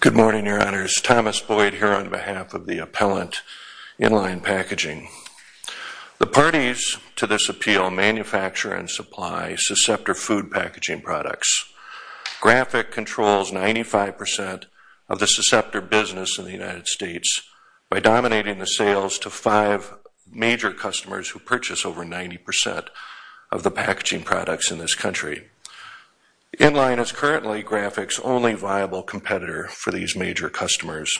Good morning, Your Honors. Thomas Boyd here on behalf of the Appellant Inline Packaging. The parties to this appeal manufacture and supply susceptor food packaging products. Graphic controls 95 percent of the susceptor business in the United States by dominating the sales to five major customers who purchase over 90 percent of the packaging products in this country. Inline is currently Graphic's only viable competitor for these major customers.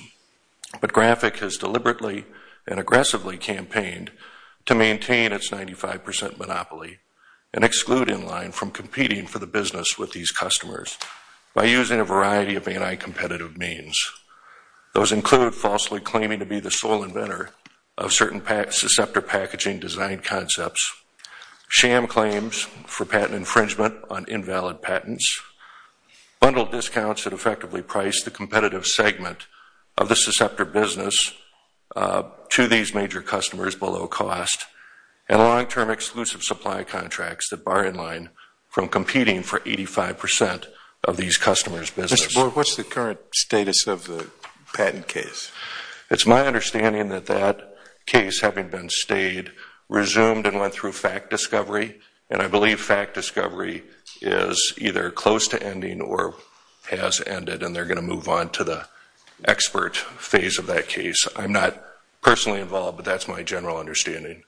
But Graphic has deliberately and aggressively campaigned to maintain its 95 percent monopoly and exclude Inline from competing for the business with these customers by using a variety of anti-competitive means. Those include falsely claiming to be the sole inventor of certain susceptor packaging design concepts, sham claims for patent infringement on invalid patents, bundled discounts that effectively price the competitive segment of the susceptor business to these major customers below cost, and long-term exclusive supply contracts that bar Inline from competing for 85 percent of these customers' business. Mr. Boyd, what's the current status of the patent case? It's my understanding that that case, having been stayed, resumed and went through fact discovery, and I believe fact discovery is either close to ending or has ended, and they're going to move on to the expert phase of that case. I'm not personally involved, but that's my general understanding.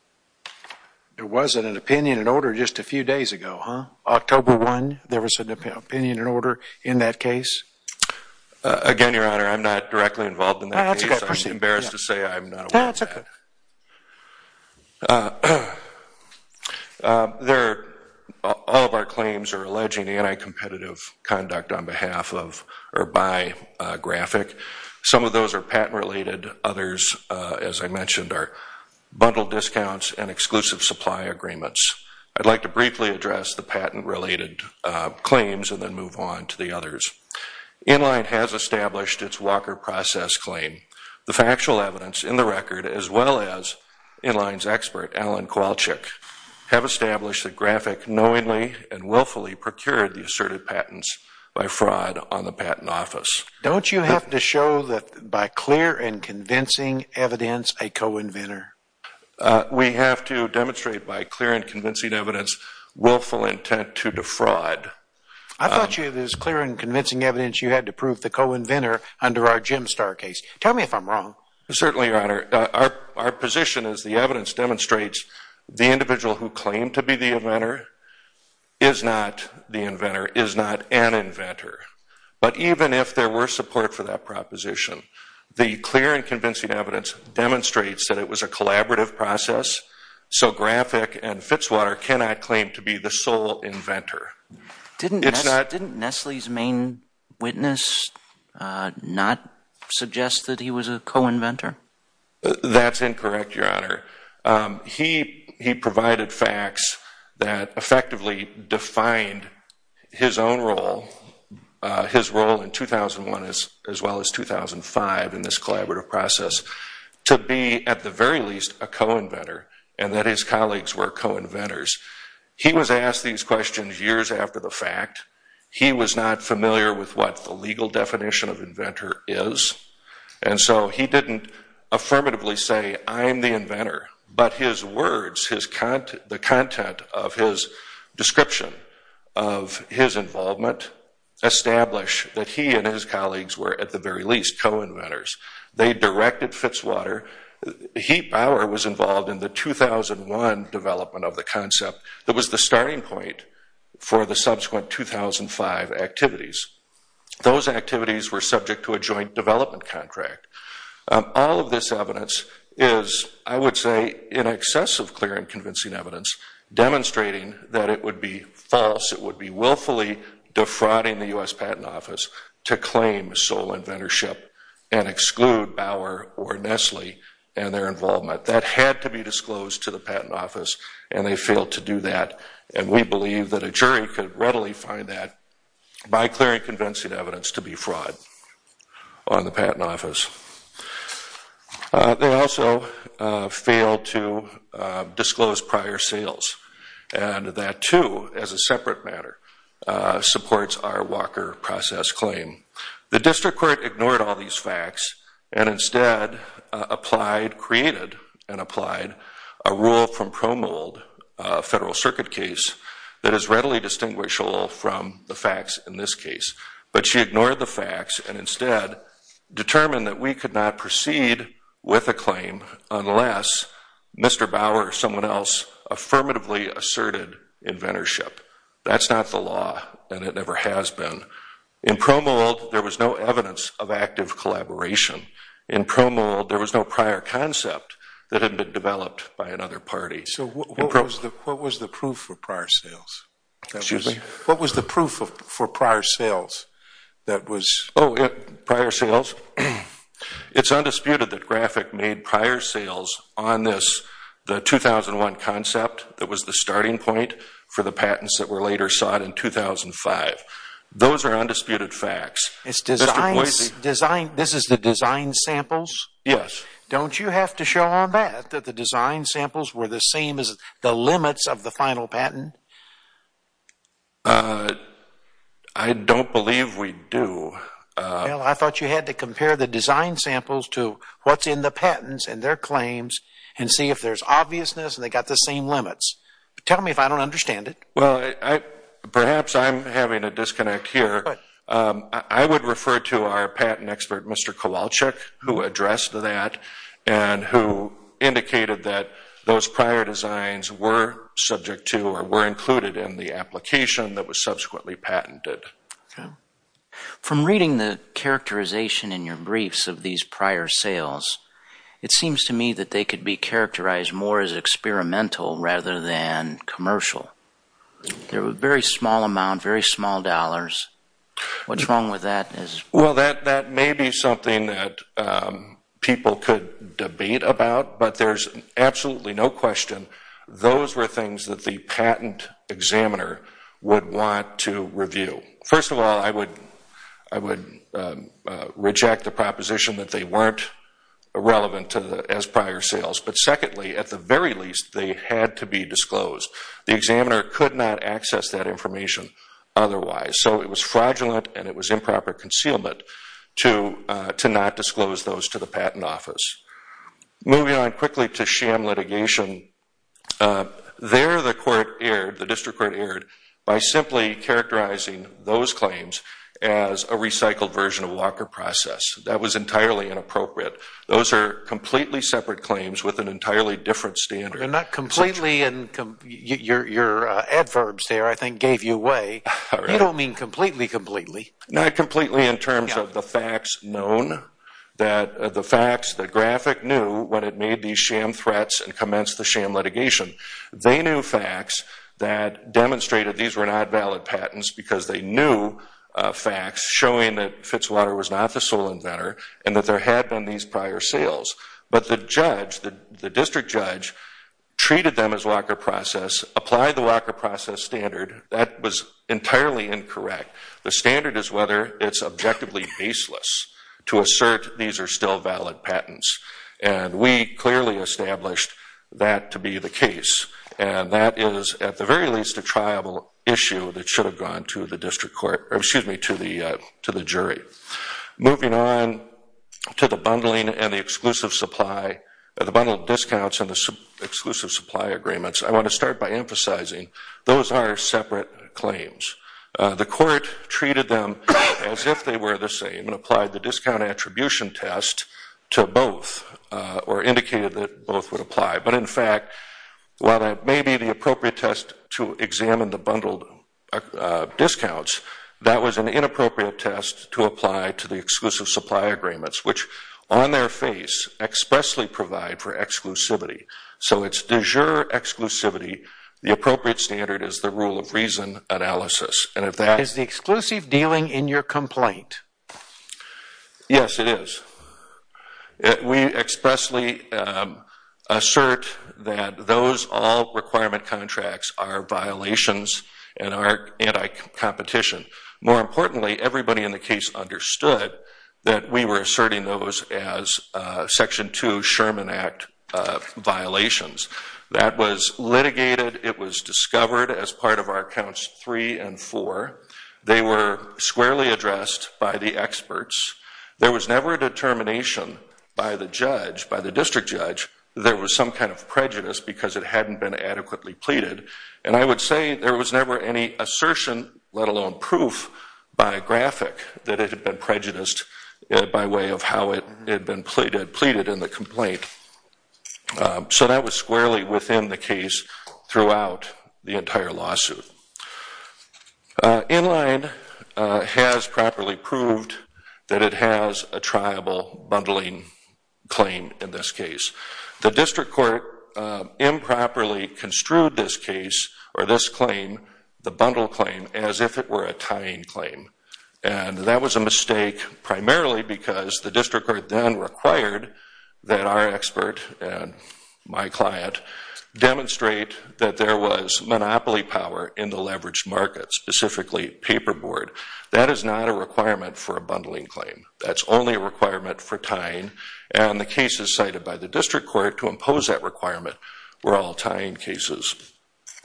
There was an opinion and order just a few days ago, huh? October 1, there was an opinion and order in that case? Again, Your Honor, I'm not directly involved in that case. I'm embarrassed to say I'm not aware of that. No, that's okay. All of our claims are alleging anti-competitive conduct on behalf of or by Graphic. Some of those are patent-related. Others, as I mentioned, are bundled discounts and exclusive supply agreements. I'd like to briefly address the patent-related claims and then move on to the others. Inline has established its Walker process claim. The factual evidence in the record, as well as Inline's expert, Alan Kowalczyk, have established that Graphic knowingly and willfully procured the asserted patents by fraud on the patent office. Don't you have to show that by clear and convincing evidence a co-inventor? We have to demonstrate by clear and convincing evidence willful intent to defraud. I thought you had this clear and convincing evidence you had to prove the co-inventor under our Jim Starr case. Tell me if I'm wrong. Certainly, Your Honor. Our position is the evidence demonstrates the individual who claimed to be the inventor is not the inventor, is not an inventor. But even if there were support for that proposition, the clear and convincing evidence demonstrates that it was a collaborative process, so Graphic and Fitzwater cannot claim to be the sole inventor. Didn't Nestle's main witness not suggest that he was a co-inventor? That's incorrect, Your Honor. He provided facts that effectively defined his own role, his role in 2001 as well as 2005 in this collaborative process, to be at the very least a co-inventor and that his colleagues were co-inventors. He was asked these questions years after the fact. He was not familiar with what the legal definition of inventor is, and so he didn't affirmatively say, I'm the inventor. But his words, the content of his description of his involvement establish that he and his colleagues were at the very least co-inventors. They directed Fitzwater. Heap Bauer was involved in the 2001 development of the concept that was the starting point for the subsequent 2005 activities. Those activities were subject to a joint development contract. All of this evidence is, I would say, in excess of clear and convincing evidence, demonstrating that it would be false, it would be willfully defrauding the U.S. Patent Office to claim sole inventorship and exclude Bauer or Nestle and their involvement. That had to be disclosed to the Patent Office, and they failed to do that, and we believe that a jury could readily find that by clear and convincing evidence to be fraud on the Patent Office. They also failed to disclose prior sales, and that too, as a separate matter, supports our Walker process claim. The district court ignored all these facts and instead applied, created, and applied a rule from Pro Mold, a Federal Circuit case, that is readily distinguishable from the facts in this case. But she ignored the facts and instead determined that we could not proceed with a claim unless Mr. Bauer or someone else affirmatively asserted inventorship. That's not the law, and it never has been. In Pro Mold, there was no evidence of active collaboration. In Pro Mold, there was no prior concept that had been developed by another party. So what was the proof for prior sales? Excuse me? What was the proof for prior sales that was... Oh, prior sales? It's undisputed that Graphic made prior sales on this, the 2001 concept that was the starting point for the patents that were later sought in 2005. Those are undisputed facts. It's design... This is the design samples? Yes. Don't you have to show on that that the design samples were the same as the limits of the final patent? I don't believe we do. Well, I thought you had to compare the design samples to what's in the patents and their claims and see if there's obviousness and they got the same limits. Tell me if I don't understand it. Well, perhaps I'm having a disconnect here. I would refer to our patent expert, Mr. Kowalczyk, who addressed that and who indicated that those prior designs were subject to or were included in the application that was subsequently patented. Okay. From reading the characterization in your briefs of these prior sales, it seems to me that they could be characterized more as experimental rather than commercial. They're a very small amount, very small dollars. What's wrong with that? Well, that may be something that people could debate about, but there's absolutely no question those were things that the patent examiner would want to review. First of all, I would reject the relevant as prior sales, but secondly, at the very least, they had to be disclosed. The examiner could not access that information otherwise, so it was fraudulent and it was improper concealment to not disclose those to the patent office. Moving on quickly to sham litigation, there the court erred, the district court erred, by simply characterizing those claims as a completely separate claims with an entirely different standard. Your adverbs there, I think, gave you away. You don't mean completely, completely. Not completely in terms of the facts known, the facts that GRAPHIC knew when it made these sham threats and commenced the sham litigation. They knew facts that demonstrated these were not valid patents because they knew facts showing that Fitzwater was not the sole inventor and that there had been these prior sales, but the judge, the district judge, treated them as Walker Process, applied the Walker Process standard. That was entirely incorrect. The standard is whether it's objectively baseless to assert these are still valid patents, and we clearly established that to be the case, and that is at the very least a triable issue that should have gone to the district court, or excuse me, to the jury. Moving on to the bundling and the exclusive supply, the bundled discounts and the exclusive supply agreements, I want to start by emphasizing those are separate claims. The court treated them as if they were the same and applied the appropriate test to examine the bundled discounts. That was an inappropriate test to apply to the exclusive supply agreements, which on their face expressly provide for exclusivity. So it's de jure exclusivity. The appropriate standard is the rule of reason analysis. Is the exclusive dealing in your complaint? Yes, it is. We expressly assert that those all requirement contracts are violations and are anti-competition. More importantly, everybody in the case understood that we were asserting those as Section 2 Sherman Act violations. That was litigated. It was discovered as part of our accounts 3 and 4. They were squarely addressed by the experts. There was never a determination by the judge, by the district judge, there was some kind of prejudice because it hadn't been adequately pleaded, and I would say there was never any assertion, let alone proof, by a graphic that it had been prejudiced by way of how it had been pleaded in the complaint. So that was squarely within the case throughout the entire lawsuit. Inline has properly proved that it has a triable bundling claim in this case. The district court improperly construed this case or this claim, the bundle claim, as if it were a tying claim. And that was a mistake primarily because the district court then required that our expert and my client demonstrate that there was monopoly power in the leveraged market, specifically paperboard. That is not a requirement for a bundling claim. That's only a requirement for tying, and the cases cited by the district court to impose that requirement were all tying cases.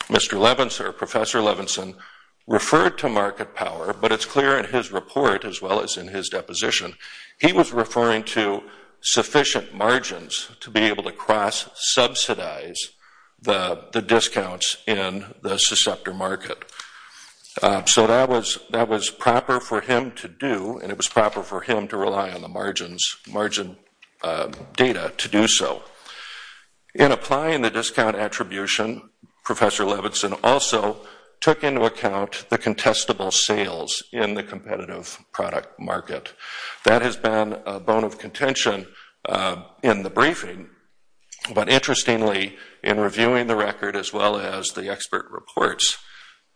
Mr. Levinson, Professor Levinson, referred to market power, but it's clear in his report as well as in his deposition, he was referring to sufficient margins to be able to cross-subsidize the discounts in the susceptor market. So that was proper for him to do, and it was proper for him to rely on the margins, margin data to do so. In applying the discount attribution, Professor Levinson also took into account the contestable sales in the competitive product market. That has been a bone of contention in the briefing, but interestingly in reviewing the record as well as the expert reports,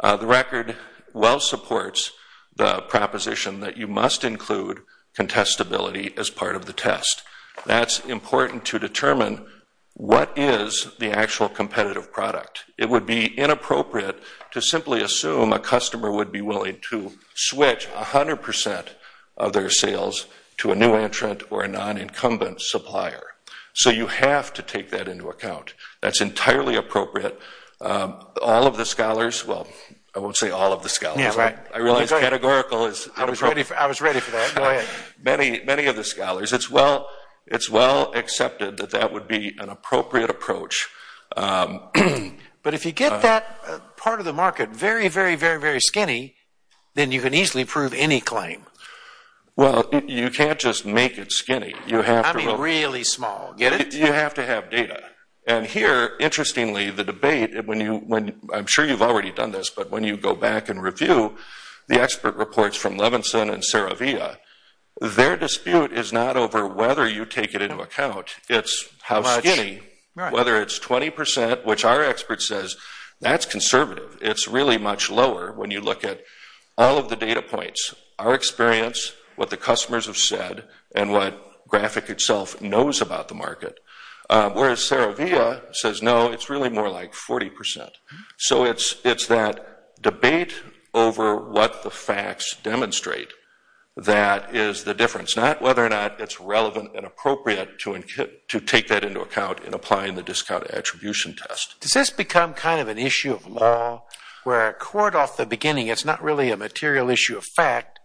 the record well supports the proposition that you must include contestability as part of the test. That's important to determine what is the actual competitive product. It would be inappropriate to simply assume a customer would be willing to switch 100 percent of their sales to a new entrant or a non-incumbent supplier. So you have to take that into account. That's entirely appropriate. All of the scholars, well I won't say all of the scholars, I realize categorical is I was ready, I was ready for that. Go ahead. Many, many of the scholars, it's well, it's well accepted that that would be an appropriate approach. But if you get that part of the market very, very, very, very skinny, then you can easily prove any claim. Well, you can't just make it when you, I'm sure you've already done this, but when you go back and review the expert reports from Levinson and Saravia, their dispute is not over whether you take it into account, it's how skinny, whether it's 20 percent, which our expert says that's conservative. It's really much lower when you look at all of the data points, our experience, what the customers have said, and what Saravia says, no, it's really more like 40 percent. So it's that debate over what the facts demonstrate that is the difference, not whether or not it's relevant and appropriate to take that into account in applying the discount attribution test. Does this become kind of an issue of law where a court off the beginning, it's not really a material issue of fact,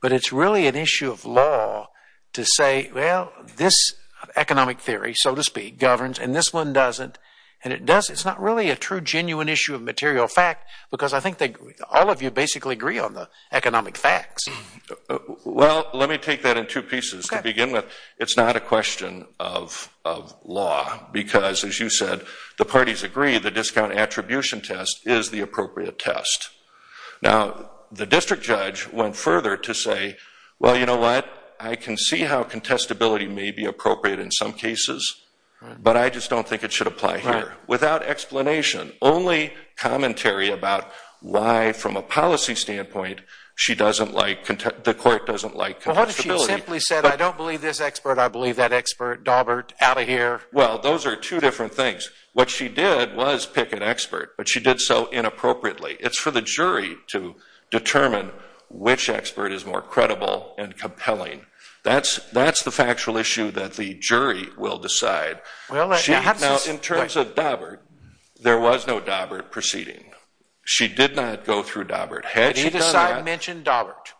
but it's really an issue of law to say, well, this economic theory, so to speak, governs, and this one doesn't, and it does, it's not really a true genuine issue of material fact, because I think that all of you basically agree on the economic facts. Well, let me take that in two pieces. To begin with, it's not a question of law, because as you said, the parties agree the discount attribution test is the appropriate test. Now, the district judge went further to say, well, you know what, I can see how contestability may be appropriate in some cases, but I just don't think it should apply here. Without explanation, only commentary about why from a policy standpoint she doesn't like, the court doesn't like contestability. Well, what if she simply said, I don't believe this expert, I believe that expert, Dawbert, out of here. Well, those are two different things. What she did was pick an expert, but she did so inappropriately. It's for the jury to determine which expert is more credible and compelling. That's the factual issue that the jury will decide. Now, in terms of Dawbert, there was no Dawbert proceeding. She did not go through Dawbert. Had she done that- Did either side mention Dawbert?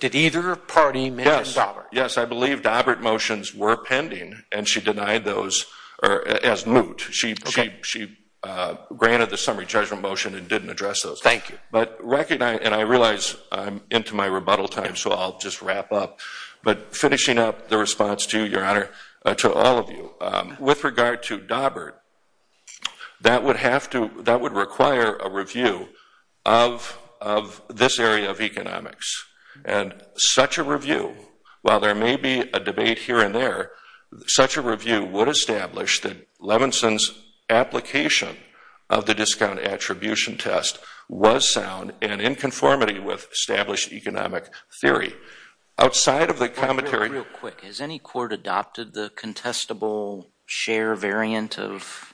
Did either party mention Dawbert? Yes, I believe Dawbert motions were pending, and she denied those as moot. She granted the summary judgment motion and didn't address those. Thank you. But recognize, and I realize I'm into my rebuttal time, so I'll just wrap up, but finishing up the response to your honor, to all of you, with regard to Dawbert, that would have to, that would require a review of this area of economics. And such a review, while there may be a debate here and there, such a review would establish that Levinson's application of the discount attribution test was sound and in conformity with established economic theory. Outside of the commentary- Real quick, has any court adopted the contestable share variant of-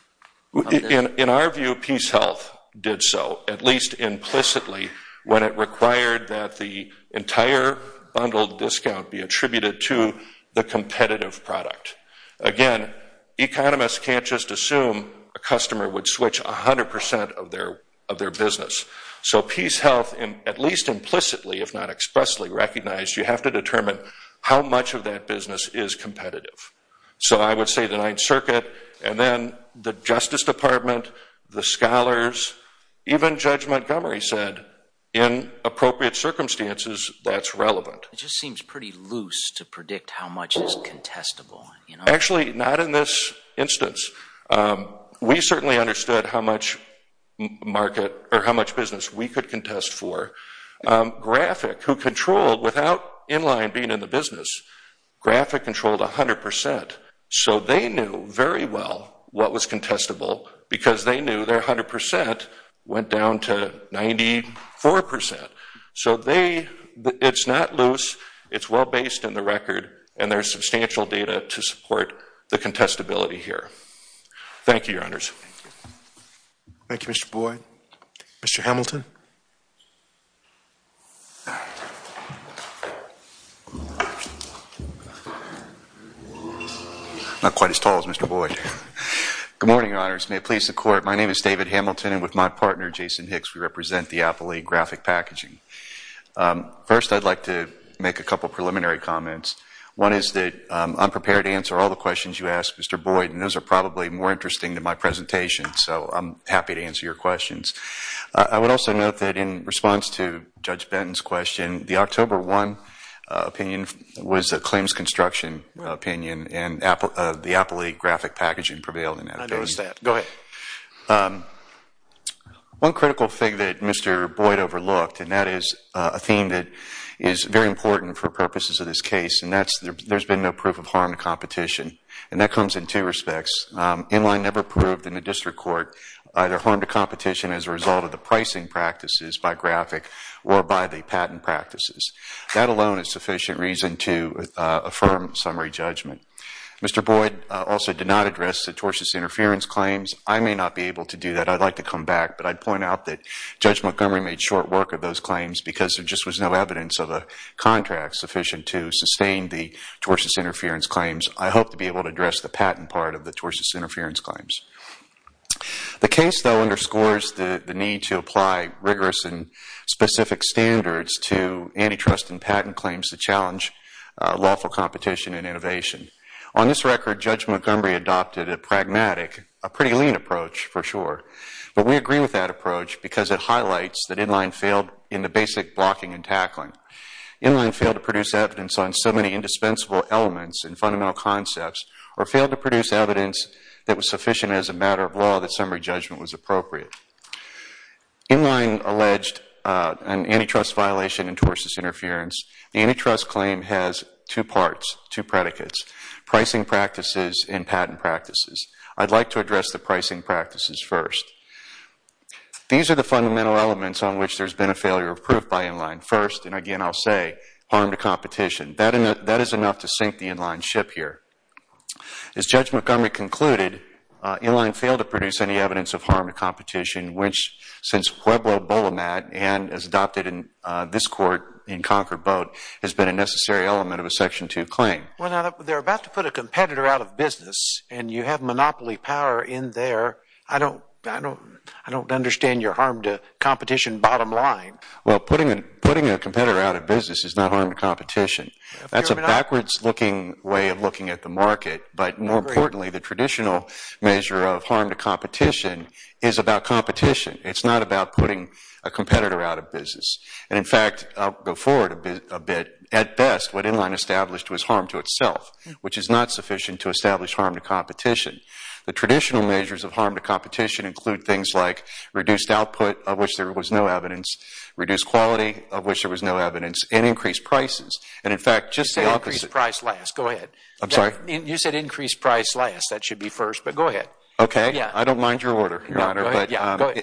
In our view, PeaceHealth did so, at least implicitly, when it required that the entire bundled discount be attributed to the competitive product. Again, economists can't just assume a customer would switch 100% of their business. So PeaceHealth, at least implicitly, if not expressly recognized, you have to determine how much of that business is competitive. So I would say the Ninth Circuit, and then the Justice Department, the scholars, even Judge Montgomery said, in appropriate circumstances, that's relevant. It just seems pretty loose to predict how much is contestable, you know? Actually, not in this instance. We certainly understood how much market, or how much business we could contest for. Graphic, who controlled, without Inline being in the business, Graphic controlled 100%. So they knew very well what was contestable, because they knew their 100% went down to 94%. So they, it's not loose, it's well based in the record, and there's the contestability here. Thank you, Your Honors. Thank you, Mr. Boyd. Mr. Hamilton. Not quite as tall as Mr. Boyd. Good morning, Your Honors. May it please the Court. My name is David Hamilton, and with my partner, Jason Hicks, we represent the Apple League Graphic Packaging. First, I'd like to make a couple preliminary comments. One is that I'm prepared to answer all the questions you ask, Mr. Boyd, and those are probably more interesting than my presentation, so I'm happy to answer your questions. I would also note that in response to Judge Benton's question, the October 1 opinion was a claims construction opinion, and the Apple League Graphic Packaging prevailed in that. I noticed that. Go ahead. One critical thing that Mr. Boyd overlooked, and that is a theme that is very important for purposes of this case, and that's there's been no proof of harm to competition, and that comes in two respects. Inline never proved in the district court either harm to competition as a result of the pricing practices by graphic or by the patent practices. That alone is sufficient reason to affirm summary judgment. Mr. Boyd also did not address the tortious interference claims. I may not be able to do that. I'd like to come back, but I'd point out that Judge Montgomery made short work of those tortious interference claims. I hope to be able to address the patent part of the tortious interference claims. The case, though, underscores the need to apply rigorous and specific standards to antitrust and patent claims to challenge lawful competition and innovation. On this record, Judge Montgomery adopted a pragmatic, a pretty lean approach for sure, but we agree with that approach because it highlights that Inline failed in the basic elements and fundamental concepts or failed to produce evidence that was sufficient as a matter of law that summary judgment was appropriate. Inline alleged an antitrust violation and tortious interference. The antitrust claim has two parts, two predicates, pricing practices and patent practices. I'd like to address the pricing practices first. These are the fundamental elements on which there's been a failure of proof by Inline. First, I'll say harm to competition. That is enough to sink the Inline ship here. As Judge Montgomery concluded, Inline failed to produce any evidence of harm to competition, which since Pueblo-Bolomat and as adopted in this court in Concord Boat has been a necessary element of a Section 2 claim. They're about to put a competitor out of business, and you have monopoly power in there. I don't understand your harm to competition bottom line. Well, putting a competitor out of business is not harm to competition. That's a backwards looking way of looking at the market, but more importantly, the traditional measure of harm to competition is about competition. It's not about putting a competitor out of business. In fact, I'll go forward a bit. At best, what Inline established was harm to itself, which is not sufficient to establish harm to competition. The traditional measures of harm to competition include things like reduced output, of which there was no evidence, reduced quality, of which there was no evidence, and increased prices. In fact, just the opposite... You said increased price last. Go ahead. I'm sorry? You said increased price last. That should be first, but go ahead. Okay. I don't mind your order, Your Honor.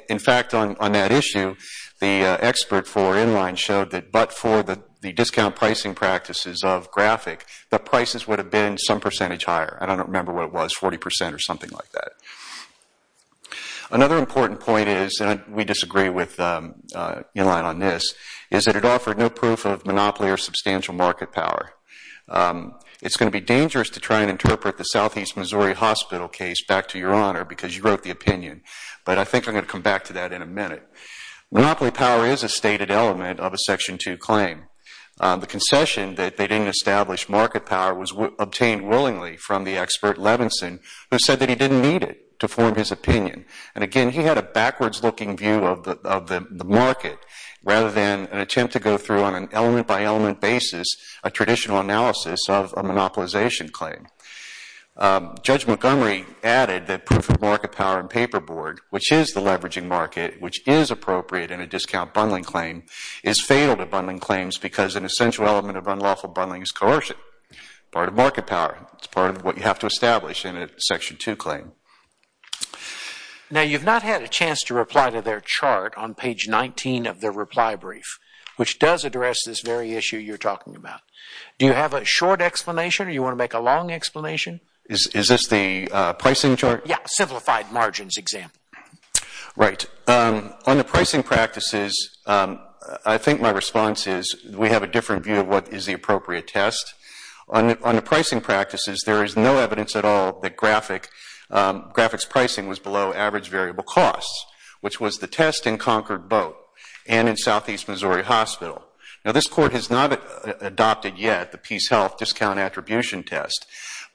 In fact, on that issue, the expert for Inline showed that but for the discount pricing practices of Graphic, the prices would have been some percentage higher. I don't remember what it was, 40% or something like that. Another important point is, and we disagree with Inline on this, is that it offered no proof of monopoly or substantial market power. It's going to be dangerous to try and interpret the Southeast Missouri Hospital case back to Your Honor because you wrote the opinion, but I think I'm going to come back to that in a minute. Monopoly power is a stated element of a Section 2 claim. The concession that they didn't establish market power was obtained willingly from the expert, Levinson, who said that he didn't need it to form his opinion. And again, he had a backwards-looking view of the market rather than an attempt to go through on an element-by-element basis a traditional analysis of a monopolization claim. Judge Montgomery added that proof of market power and paperboard, which is the leveraging market, which is appropriate in a discount bundling claim, is fatal to bundling claims because an essential element of unlawful bundling is coercion, part of market power. It's part of what you have to establish in a Section 2 claim. Now, you've not had a chance to reply to their chart on page 19 of their reply brief, which does address this very issue you're talking about. Do you have a short explanation or you want to make a long explanation? Is this the pricing chart? Yeah, simplified margins example. Right. On the pricing practices, I think my response is we have a different view of what is the appropriate test. On the pricing practices, there is no evidence at all that graphics pricing was below average variable costs, which was the test in Concord Boat and in Southeast Missouri Hospital. Now, this Court has not adopted yet the Peace Health discount attribution test,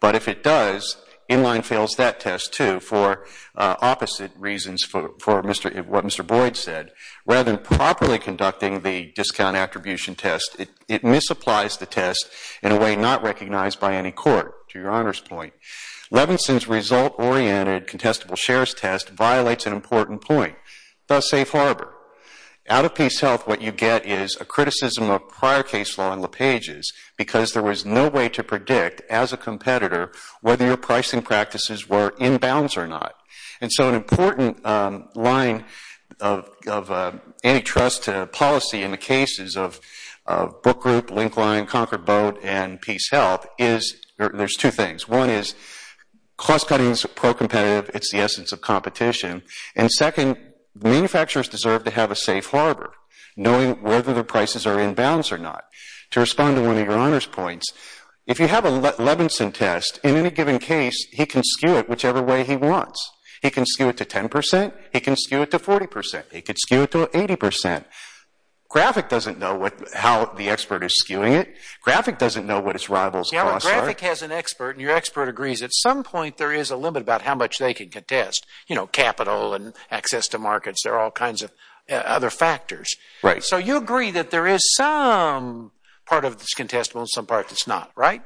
but if it does, Inline fails that test too for opposite reasons for what Mr. Boyd said. Rather than properly conducting the discount attribution test, it misapplies the test in a way not recognized by any court, to your Honor's point. Levinson's result-oriented contestable shares test violates an important point, thus Safe Harbor. Out of Peace Health, what you get is a criticism of prior case law in LePage's because there was no way to predict, as a competitor, whether your pricing practices were inbounds or not. And so an important line of antitrust policy in the cases of Book Group, Linkline, Concord Boat, and Peace Health is, there's two things. One is cost cutting is pro-competitive. It's the essence of competition. And second, manufacturers deserve to have a safe harbor, knowing whether their prices are inbounds or not. To respond to one of your Honor's points, if you have a Levinson test, in any given case, he can skew it whichever way he wants. He can skew it to 10 percent. He can skew it to 40 percent. He could skew it to 80 percent. Graphic doesn't know how the expert is skewing it. Graphic doesn't know what its rivals' costs are. Yeah, but Graphic has an expert, and your expert agrees. At some point, there is a limit about how much they can contest, you know, capital and access to markets. There are all kinds of other factors. Right. So you agree that there is some part of this contestable and some part that's not, right?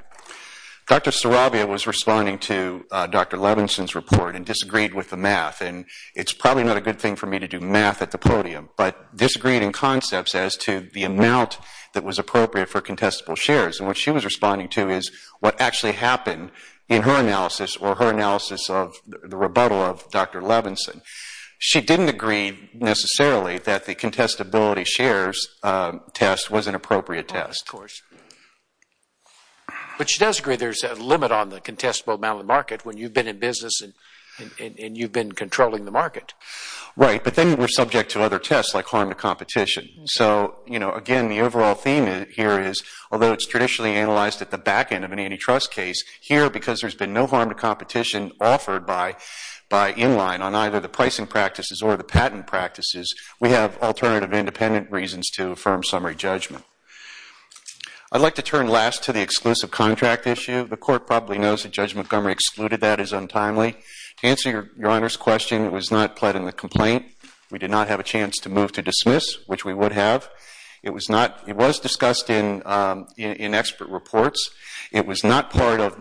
Dr. Sarabia was responding to Dr. Levinson's report and disagreed with the math. And it's probably not a good thing for me to do math at the podium, but disagreed in concepts as to the amount that was appropriate for contestable shares. And what she was responding to is what actually happened in her analysis or her analysis of the rebuttal of Dr. Levinson. She didn't agree necessarily that the contestability shares test was an appropriate test. Of course. But she does agree there's a limit on the contestable amount of the market when you've been in business and you've been controlling the market. Right, but then we're subject to other tests like harm to competition. So, you know, again, the overall theme here is, although it's analyzed at the back end of an antitrust case, here because there's been no harm to competition offered by Inline on either the pricing practices or the patent practices, we have alternative independent reasons to affirm summary judgment. I'd like to turn last to the exclusive contract issue. The court probably knows that Judge Montgomery excluded that as untimely. To answer Your Honor's question, it was not pled in the complaint. We did not have a chance to move to expert reports. It was not part of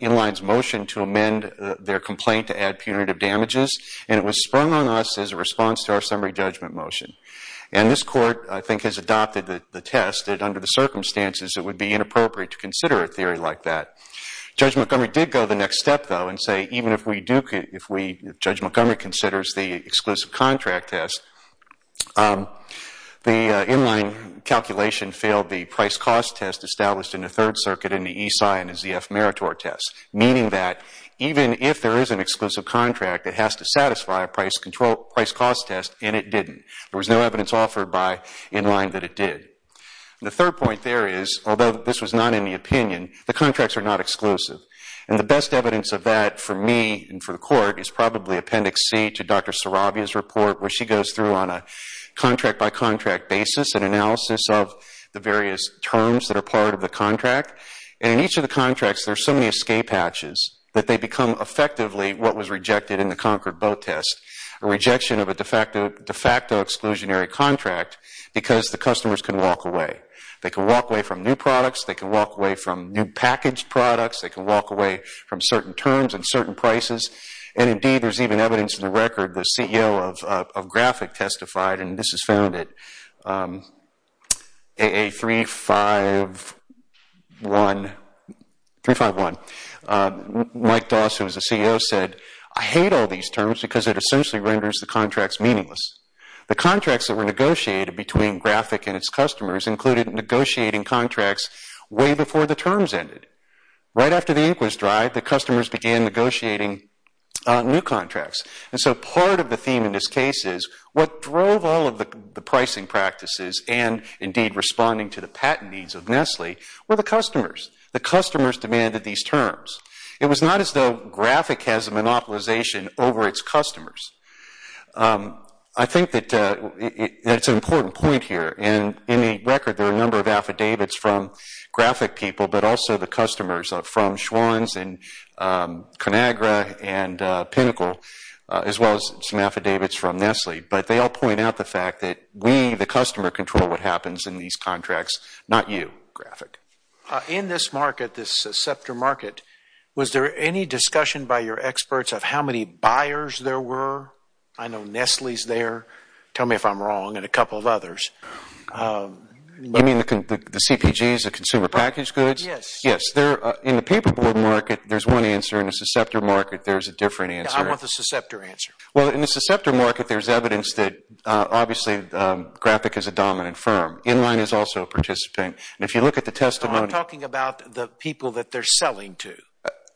Inline's motion to amend their complaint to add punitive damages, and it was sprung on us as a response to our summary judgment motion. And this court, I think, has adopted the test that under the circumstances it would be inappropriate to consider a theory like that. Judge Montgomery did go the next step, though, and say even if we do, if Judge Montgomery considers the exclusive contract test, the Inline calculation failed the price-cost test established in the Third Circuit in the ESI and the ZF Meritor test, meaning that even if there is an exclusive contract, it has to satisfy a price-cost test, and it didn't. There was no evidence offered by Inline that it did. The third point there is, although this was not in the opinion, the contracts are not exclusive. And the best evidence of that for me and for the court is probably Appendix C to Dr. Saravia's report, where she goes through on a contract-by-contract basis an analysis of the various terms that are part of the contract. And in each of the contracts, there are so many escape hatches that they become effectively what was rejected in the Concord Bow test, a rejection of a de facto exclusionary contract because the customers can walk away. They can walk away from new products. They can walk away from new packaged products. They can walk away from certain terms and certain prices. And indeed, there's even evidence in the record, the CEO of Graphic testified, and this is found at AA351. Mike Doss, who is the CEO, said, I hate all these terms because it essentially renders the contracts meaningless. The contracts that were negotiated between Graphic and its customers included negotiating contracts way before the terms ended. Right after the ink was dried, the customers began negotiating new contracts. And so part of the theme in this case is what drove all of the pricing practices and indeed responding to the patent needs of Nestle were the customers. The customers demanded these terms. It was not as though Graphic has a monopolization over its customers. I think that it's an important point here. In the record, there are a number of affidavits from Graphic people, but also the customers from Schwann's and Conagra and Pinnacle, as well as some affidavits from Nestle. But they all point out the fact that we, the customer, control what happens in these contracts, not you, Graphic. In this market, this Scepter market, was there any discussion by your experts of how many buyers there were? I know Nestle's there. Tell me if I'm wrong and a couple of others. You mean the CPGs, the consumer packaged goods? Yes. In the paper board market, there's one answer. In the Scepter market, there's a different answer. I want the Scepter answer. Well, in the Scepter market, there's evidence that obviously Graphic is a dominant firm. Inline is also a participant. And if you look at the testimony. I'm talking about the people that they're selling to.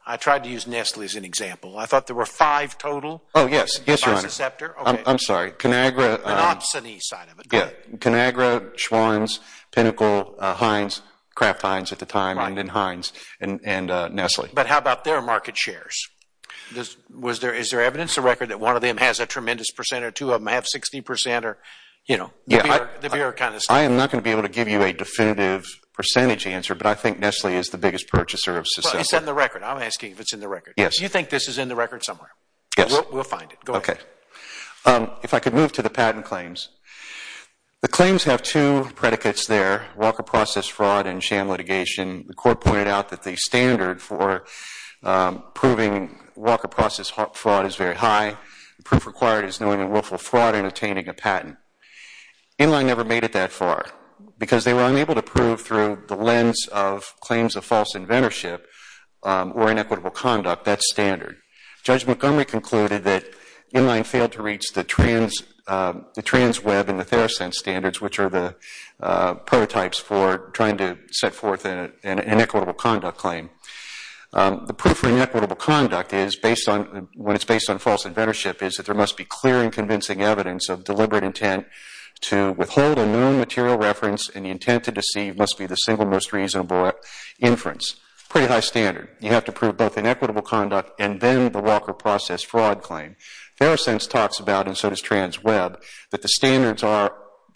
I tried to use Nestle as an example. I thought there were five total by Scepter. Oh, yes. Yes, Conagra, Schwanz, Pinnacle, Heinz, Kraft Heinz at the time, and then Heinz and Nestle. But how about their market shares? Is there evidence, a record, that one of them has a tremendous percent or two of them have 60 percent? I am not going to be able to give you a definitive percentage answer, but I think Nestle is the biggest purchaser of Scepter. It's in the record. I'm asking if it's in the record. Do you think this is in the record somewhere? Yes. We'll find the patent claims. The claims have two predicates there. Walker process fraud and sham litigation. The court pointed out that the standard for proving Walker process fraud is very high. Proof required is knowing a willful fraud in attaining a patent. Inline never made it that far because they were unable to prove through the lens of claims of false inventorship or inequitable conduct that standard. Judge Montgomery concluded that Inline failed to reach the trans web and the Theracense standards, which are the prototypes for trying to set forth an inequitable conduct claim. The proof for inequitable conduct, when it's based on false inventorship, is that there must be clear and convincing evidence of deliberate intent to withhold a known material reference and the intent to deceive must be the single most reasonable inference. Pretty high standard. You have to prove both inequitable conduct and then the Walker process fraud claim. Theracense talks about, and so does trans web, that the standards are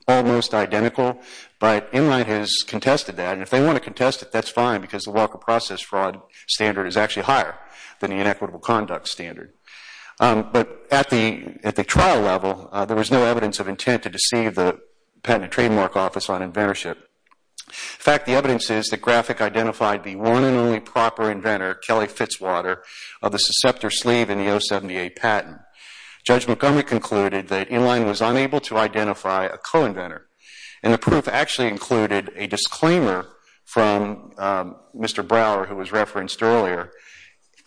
almost identical, but Inline has contested that. If they want to contest it, that's fine because the Walker process fraud standard is actually higher than the inequitable conduct standard. But at the trial level, there was no evidence of intent to deceive the Patent and Trademark Office on inventorship. In fact, the evidence is that Graphic identified the one and only proper inventor, Kelly Fitzwater, of the susceptor sleeve in the 078 patent. Judge Montgomery concluded that Inline was unable to identify a co-inventor and the proof actually included a disclaimer from Mr. Brower, who was referenced earlier,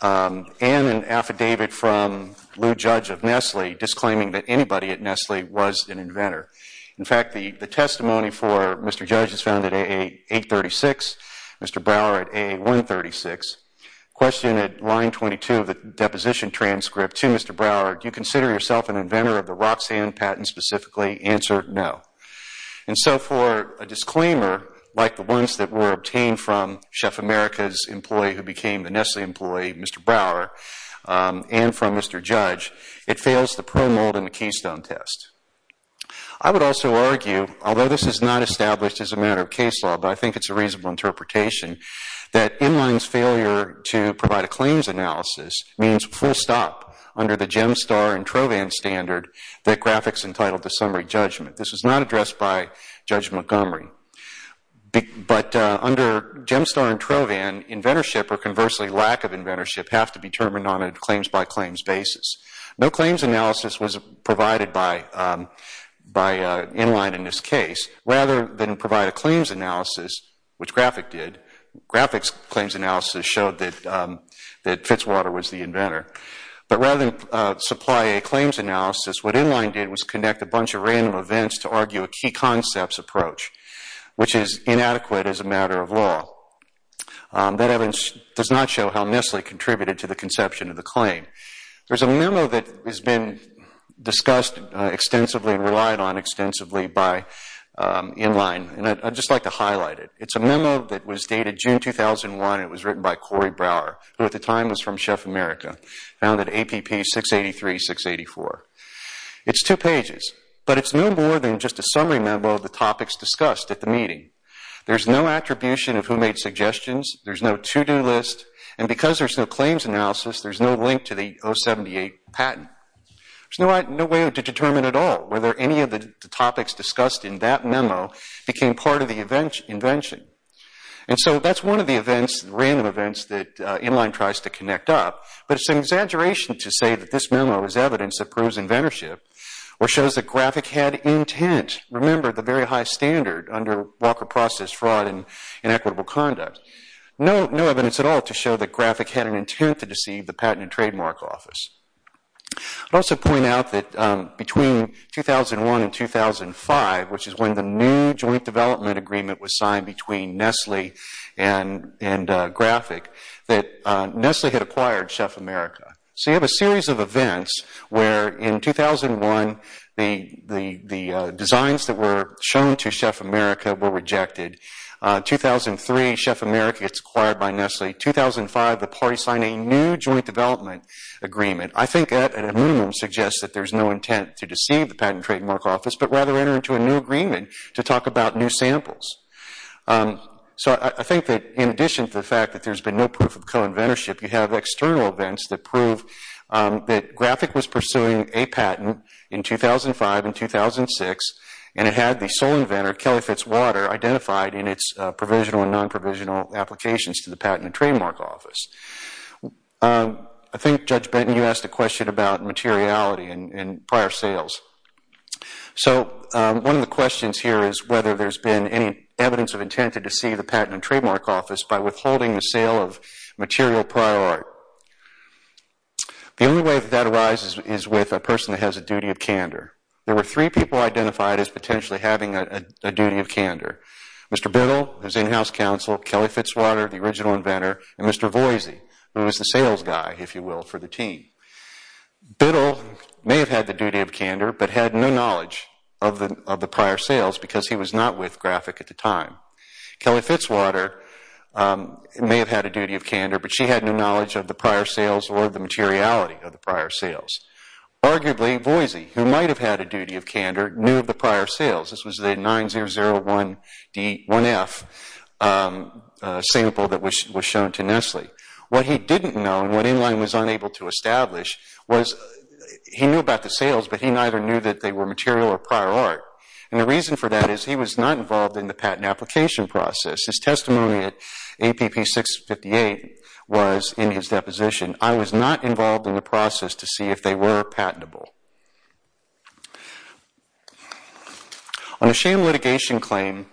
and an affidavit from Lou Judge of Nestle disclaiming that anybody at Nestle was an inventor. In fact, the testimony for Mr. Judge is found at A836, Mr. Brower at A136. Question at line 22 of the deposition transcript to Mr. Brower, do you consider yourself an inventor of the Roxanne patent specifically? Answer, no. And so for a disclaimer, like the ones that were obtained from Chef America's employee who became the Nestle employee, Mr. Brower, and from Mr. Judge, it fails the pro-mold and the established as a matter of case law, but I think it's a reasonable interpretation that Inline's failure to provide a claims analysis means full stop under the Gemstar and Trovan standard that Graphic's entitled to summary judgment. This is not addressed by Judge Montgomery. But under Gemstar and Trovan, inventorship or conversely lack of inventorship have to be determined on a claims-by- rather than provide a claims analysis, which Graphic did. Graphic's claims analysis showed that Fitzwater was the inventor. But rather than supply a claims analysis, what Inline did was conduct a bunch of random events to argue a key concepts approach, which is inadequate as a matter of law. That evidence does not show how Nestle contributed to the conception of the claim. There's a memo that has been discussed extensively and relied on extensively by Inline, and I'd just like to highlight it. It's a memo that was dated June 2001, and it was written by Corey Brower, who at the time was from Chef America, founded APP 683-684. It's two pages, but it's no more than just a summary memo of the topics discussed at the meeting. There's no attribution of who made suggestions, there's no to-do list, and because there's no claims analysis, there's no link to the 078 patent. There's no way to determine at all whether any of the topics discussed in that memo became part of the invention. And so that's one of the events, random events, that Inline tries to connect up, but it's an exaggeration to say that this memo is evidence that proves inventorship or shows that Graphic had intent. Remember, the very high standard under Walker process fraud and inequitable conduct. No evidence at all to show that Graphic had an intent to trademark office. I'd also point out that between 2001 and 2005, which is when the new joint development agreement was signed between Nestle and Graphic, that Nestle had acquired Chef America. So you have a series of events where in 2001, the designs that were shown to Chef America were rejected. 2003, Chef America gets acquired by Nestle. 2005, the parties sign a new joint development agreement. I think that at a minimum suggests that there's no intent to deceive the patent trademark office, but rather enter into a new agreement to talk about new samples. So I think that in addition to the fact that there's been no proof of co-inventorship, you have external events that prove that Graphic was pursuing a patent in 2005 and 2006, and it had the sole inventor, Kelly Fitzwater, identified in its provisional and non-provisional applications to the patent trademark office. I think Judge Benton, you asked a question about materiality and prior sales. So one of the questions here is whether there's been any evidence of intent to deceive the patent and trademark office by withholding the sale of material prior art. The only way that arises is with a person that has a duty of candor. There were three people identified as potentially having a duty of candor. Mr. Biddle, who's in-house counsel, Kelly Fitzwater, the original inventor, and Mr. Voisey, who was the sales guy, if you will, for the team. Biddle may have had the duty of candor, but had no knowledge of the prior sales because he was not with Graphic at the time. Kelly Fitzwater may have had a duty of candor, but she had no knowledge of the prior sales or the materiality of the prior sales. Arguably, Voisey, who might have had a duty of candor, knew of the 9001D1F sample that was shown to Nestle. What he didn't know, and what Inline was unable to establish, was he knew about the sales, but he neither knew that they were material or prior art. And the reason for that is he was not involved in the patent application process. His testimony at APP 658 was in his deposition. I was not involved in the process to see if they were patentable. On a sham litigation claim...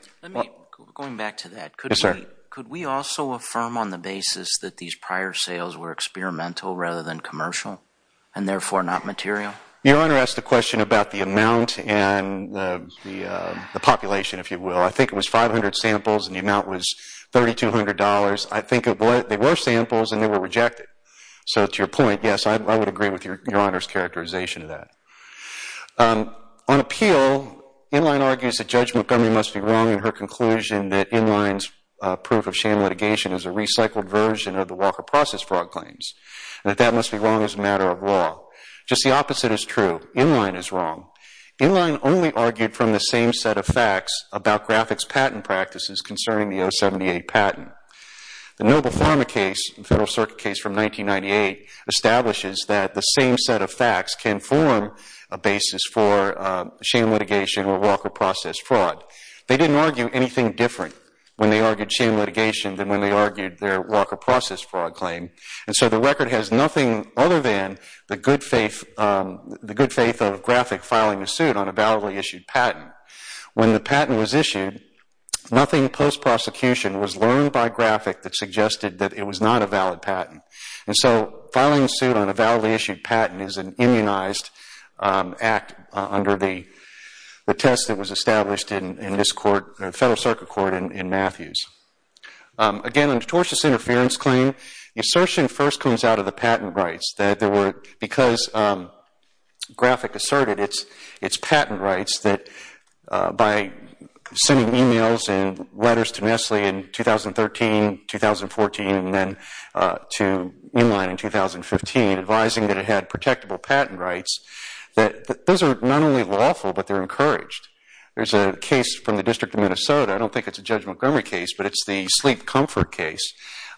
Going back to that, could we also affirm on the basis that these prior sales were experimental rather than commercial, and therefore not material? Your Honor asked a question about the amount and the population, if you will. I think it was 500 samples and the amount was $3,200. I think they were samples and they were rejected. So to your point, yes, I would agree with Your Honor's characterization of that. On appeal, Inline argues that Judge Montgomery must be wrong in her conclusion that Inline's proof of sham litigation is a recycled version of the Walker process fraud claims, and that that must be wrong as a matter of law. Just the opposite is true. Inline is wrong. Inline only argued from the same set of facts about graphics patent practices concerning the 078 patent. The Noble Pharma case, a Federal Circuit case from 1998, establishes that the same set of facts can form a basis for sham litigation or Walker process fraud. They didn't argue anything different when they argued sham litigation than when they argued their Walker process fraud claim. And so the record has nothing other than the good faith of graphic filing a suit on a validly issued patent. When the patent was issued, nothing post-prosecution was learned by graphic that suggested that it was not a valid patent. And so filing a suit on a patent is an immunized act under the test that was established in this court, the Federal Circuit Court in Matthews. Again, a notorious interference claim, the assertion first comes out of the patent rights that there were, because graphic asserted its patent rights that by sending emails and had protectable patent rights, that those are not only lawful, but they're encouraged. There's a case from the District of Minnesota. I don't think it's a Judge Montgomery case, but it's the Sleep Comfort case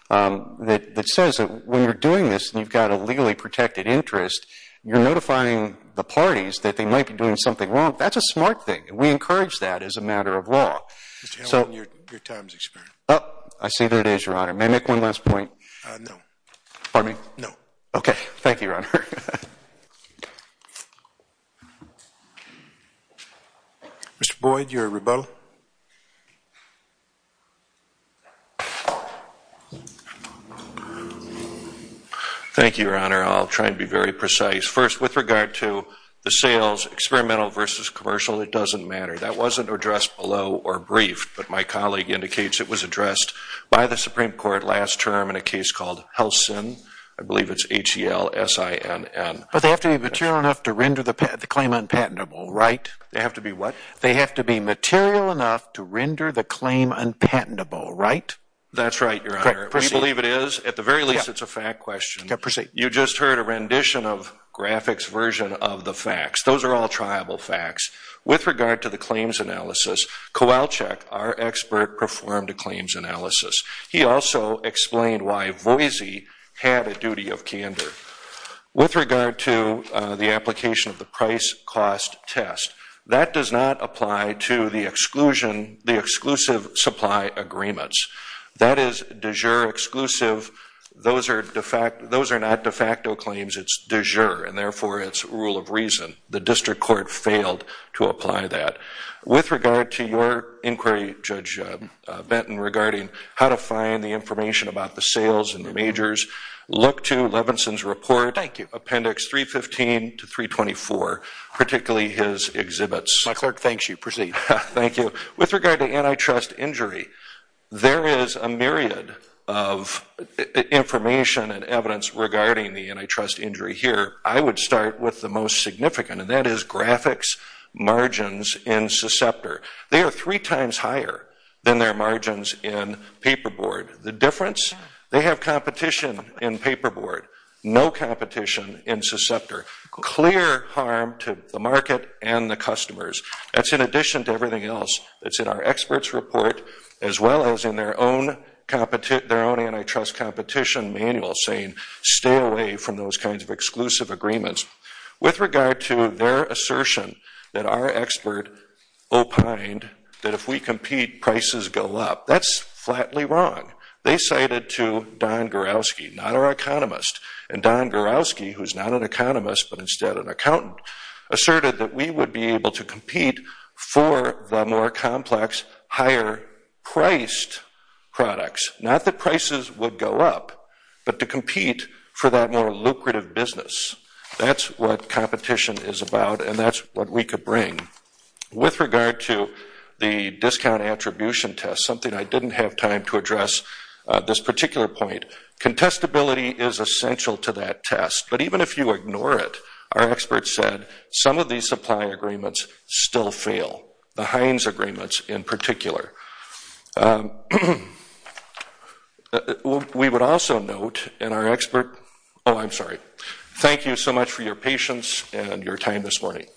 that says that when you're doing this and you've got a legally protected interest, you're notifying the parties that they might be doing something wrong. That's a smart thing. We encourage that as a matter of law. I see there it is, Your Honor. May I make one last point? No. Pardon me? No. Okay. Thank you, Your Honor. Mr. Boyd, your rebuttal. Thank you, Your Honor. I'll try and be very precise. First, with regard to the sales, experimental versus commercial, it doesn't matter. That wasn't addressed below or briefed, but my colleague indicates it was addressed by the Supreme Court last term in a case called Helsin. I believe it's H-E-L-S-I-N-N. But they have to be material enough to render the claim unpatentable, right? They have to be what? They have to be material enough to render the claim unpatentable, right? That's right, Your Honor. We believe it is. At the very least, it's a fact question. You just heard a rendition of graphics version of the facts. Those are all triable facts. With regard to the claims analysis, Kowalczyk, our expert, performed a claims analysis. He also explained why Voisy had a duty of candor. With regard to the application of the price-cost test, that does not apply to the exclusive supply agreements. That is de jure exclusive. Those are not de facto claims. It's de jure, and therefore it's rule of reason. The District Court failed to apply that. With regard to your inquiry, Judge Benton, regarding how to find the information about the sales and the majors, look to Levinson's report, Appendix 315 to 324, particularly his exhibits. My clerk thanks you. Proceed. Thank you. With regard to antitrust injury, there is a myriad of information and evidence regarding the antitrust injury here. I would start with the most significant, and that is graphics margins in Susceptor. They are three times higher than their margins in Paperboard. The difference? They have competition in Paperboard, no competition in Susceptor. Clear harm to the market and the customers. That's in addition to everything else that's in our experts' report, as well as in their own antitrust competition manual saying stay away from those kinds of exclusive agreements. With regard to their assertion that our expert opined that if we compete, prices go up, that's flatly wrong. They cited to Don Garowski, not our economist, and Don Garowski, who's not an economist but instead an accountant, asserted that we would be able to compete for the more complex, higher-priced products. Not that prices would go up, but to compete for that more lucrative business. That's what competition is about and that's what we could bring. With regard to the discount attribution test, something I didn't have time to address this particular point. Contestability is essential to that test, but even if you ignore it, our experts said some of these supply agreements still fail, the Heinz agreements in particular. Thank you so much for your patience and your time this morning.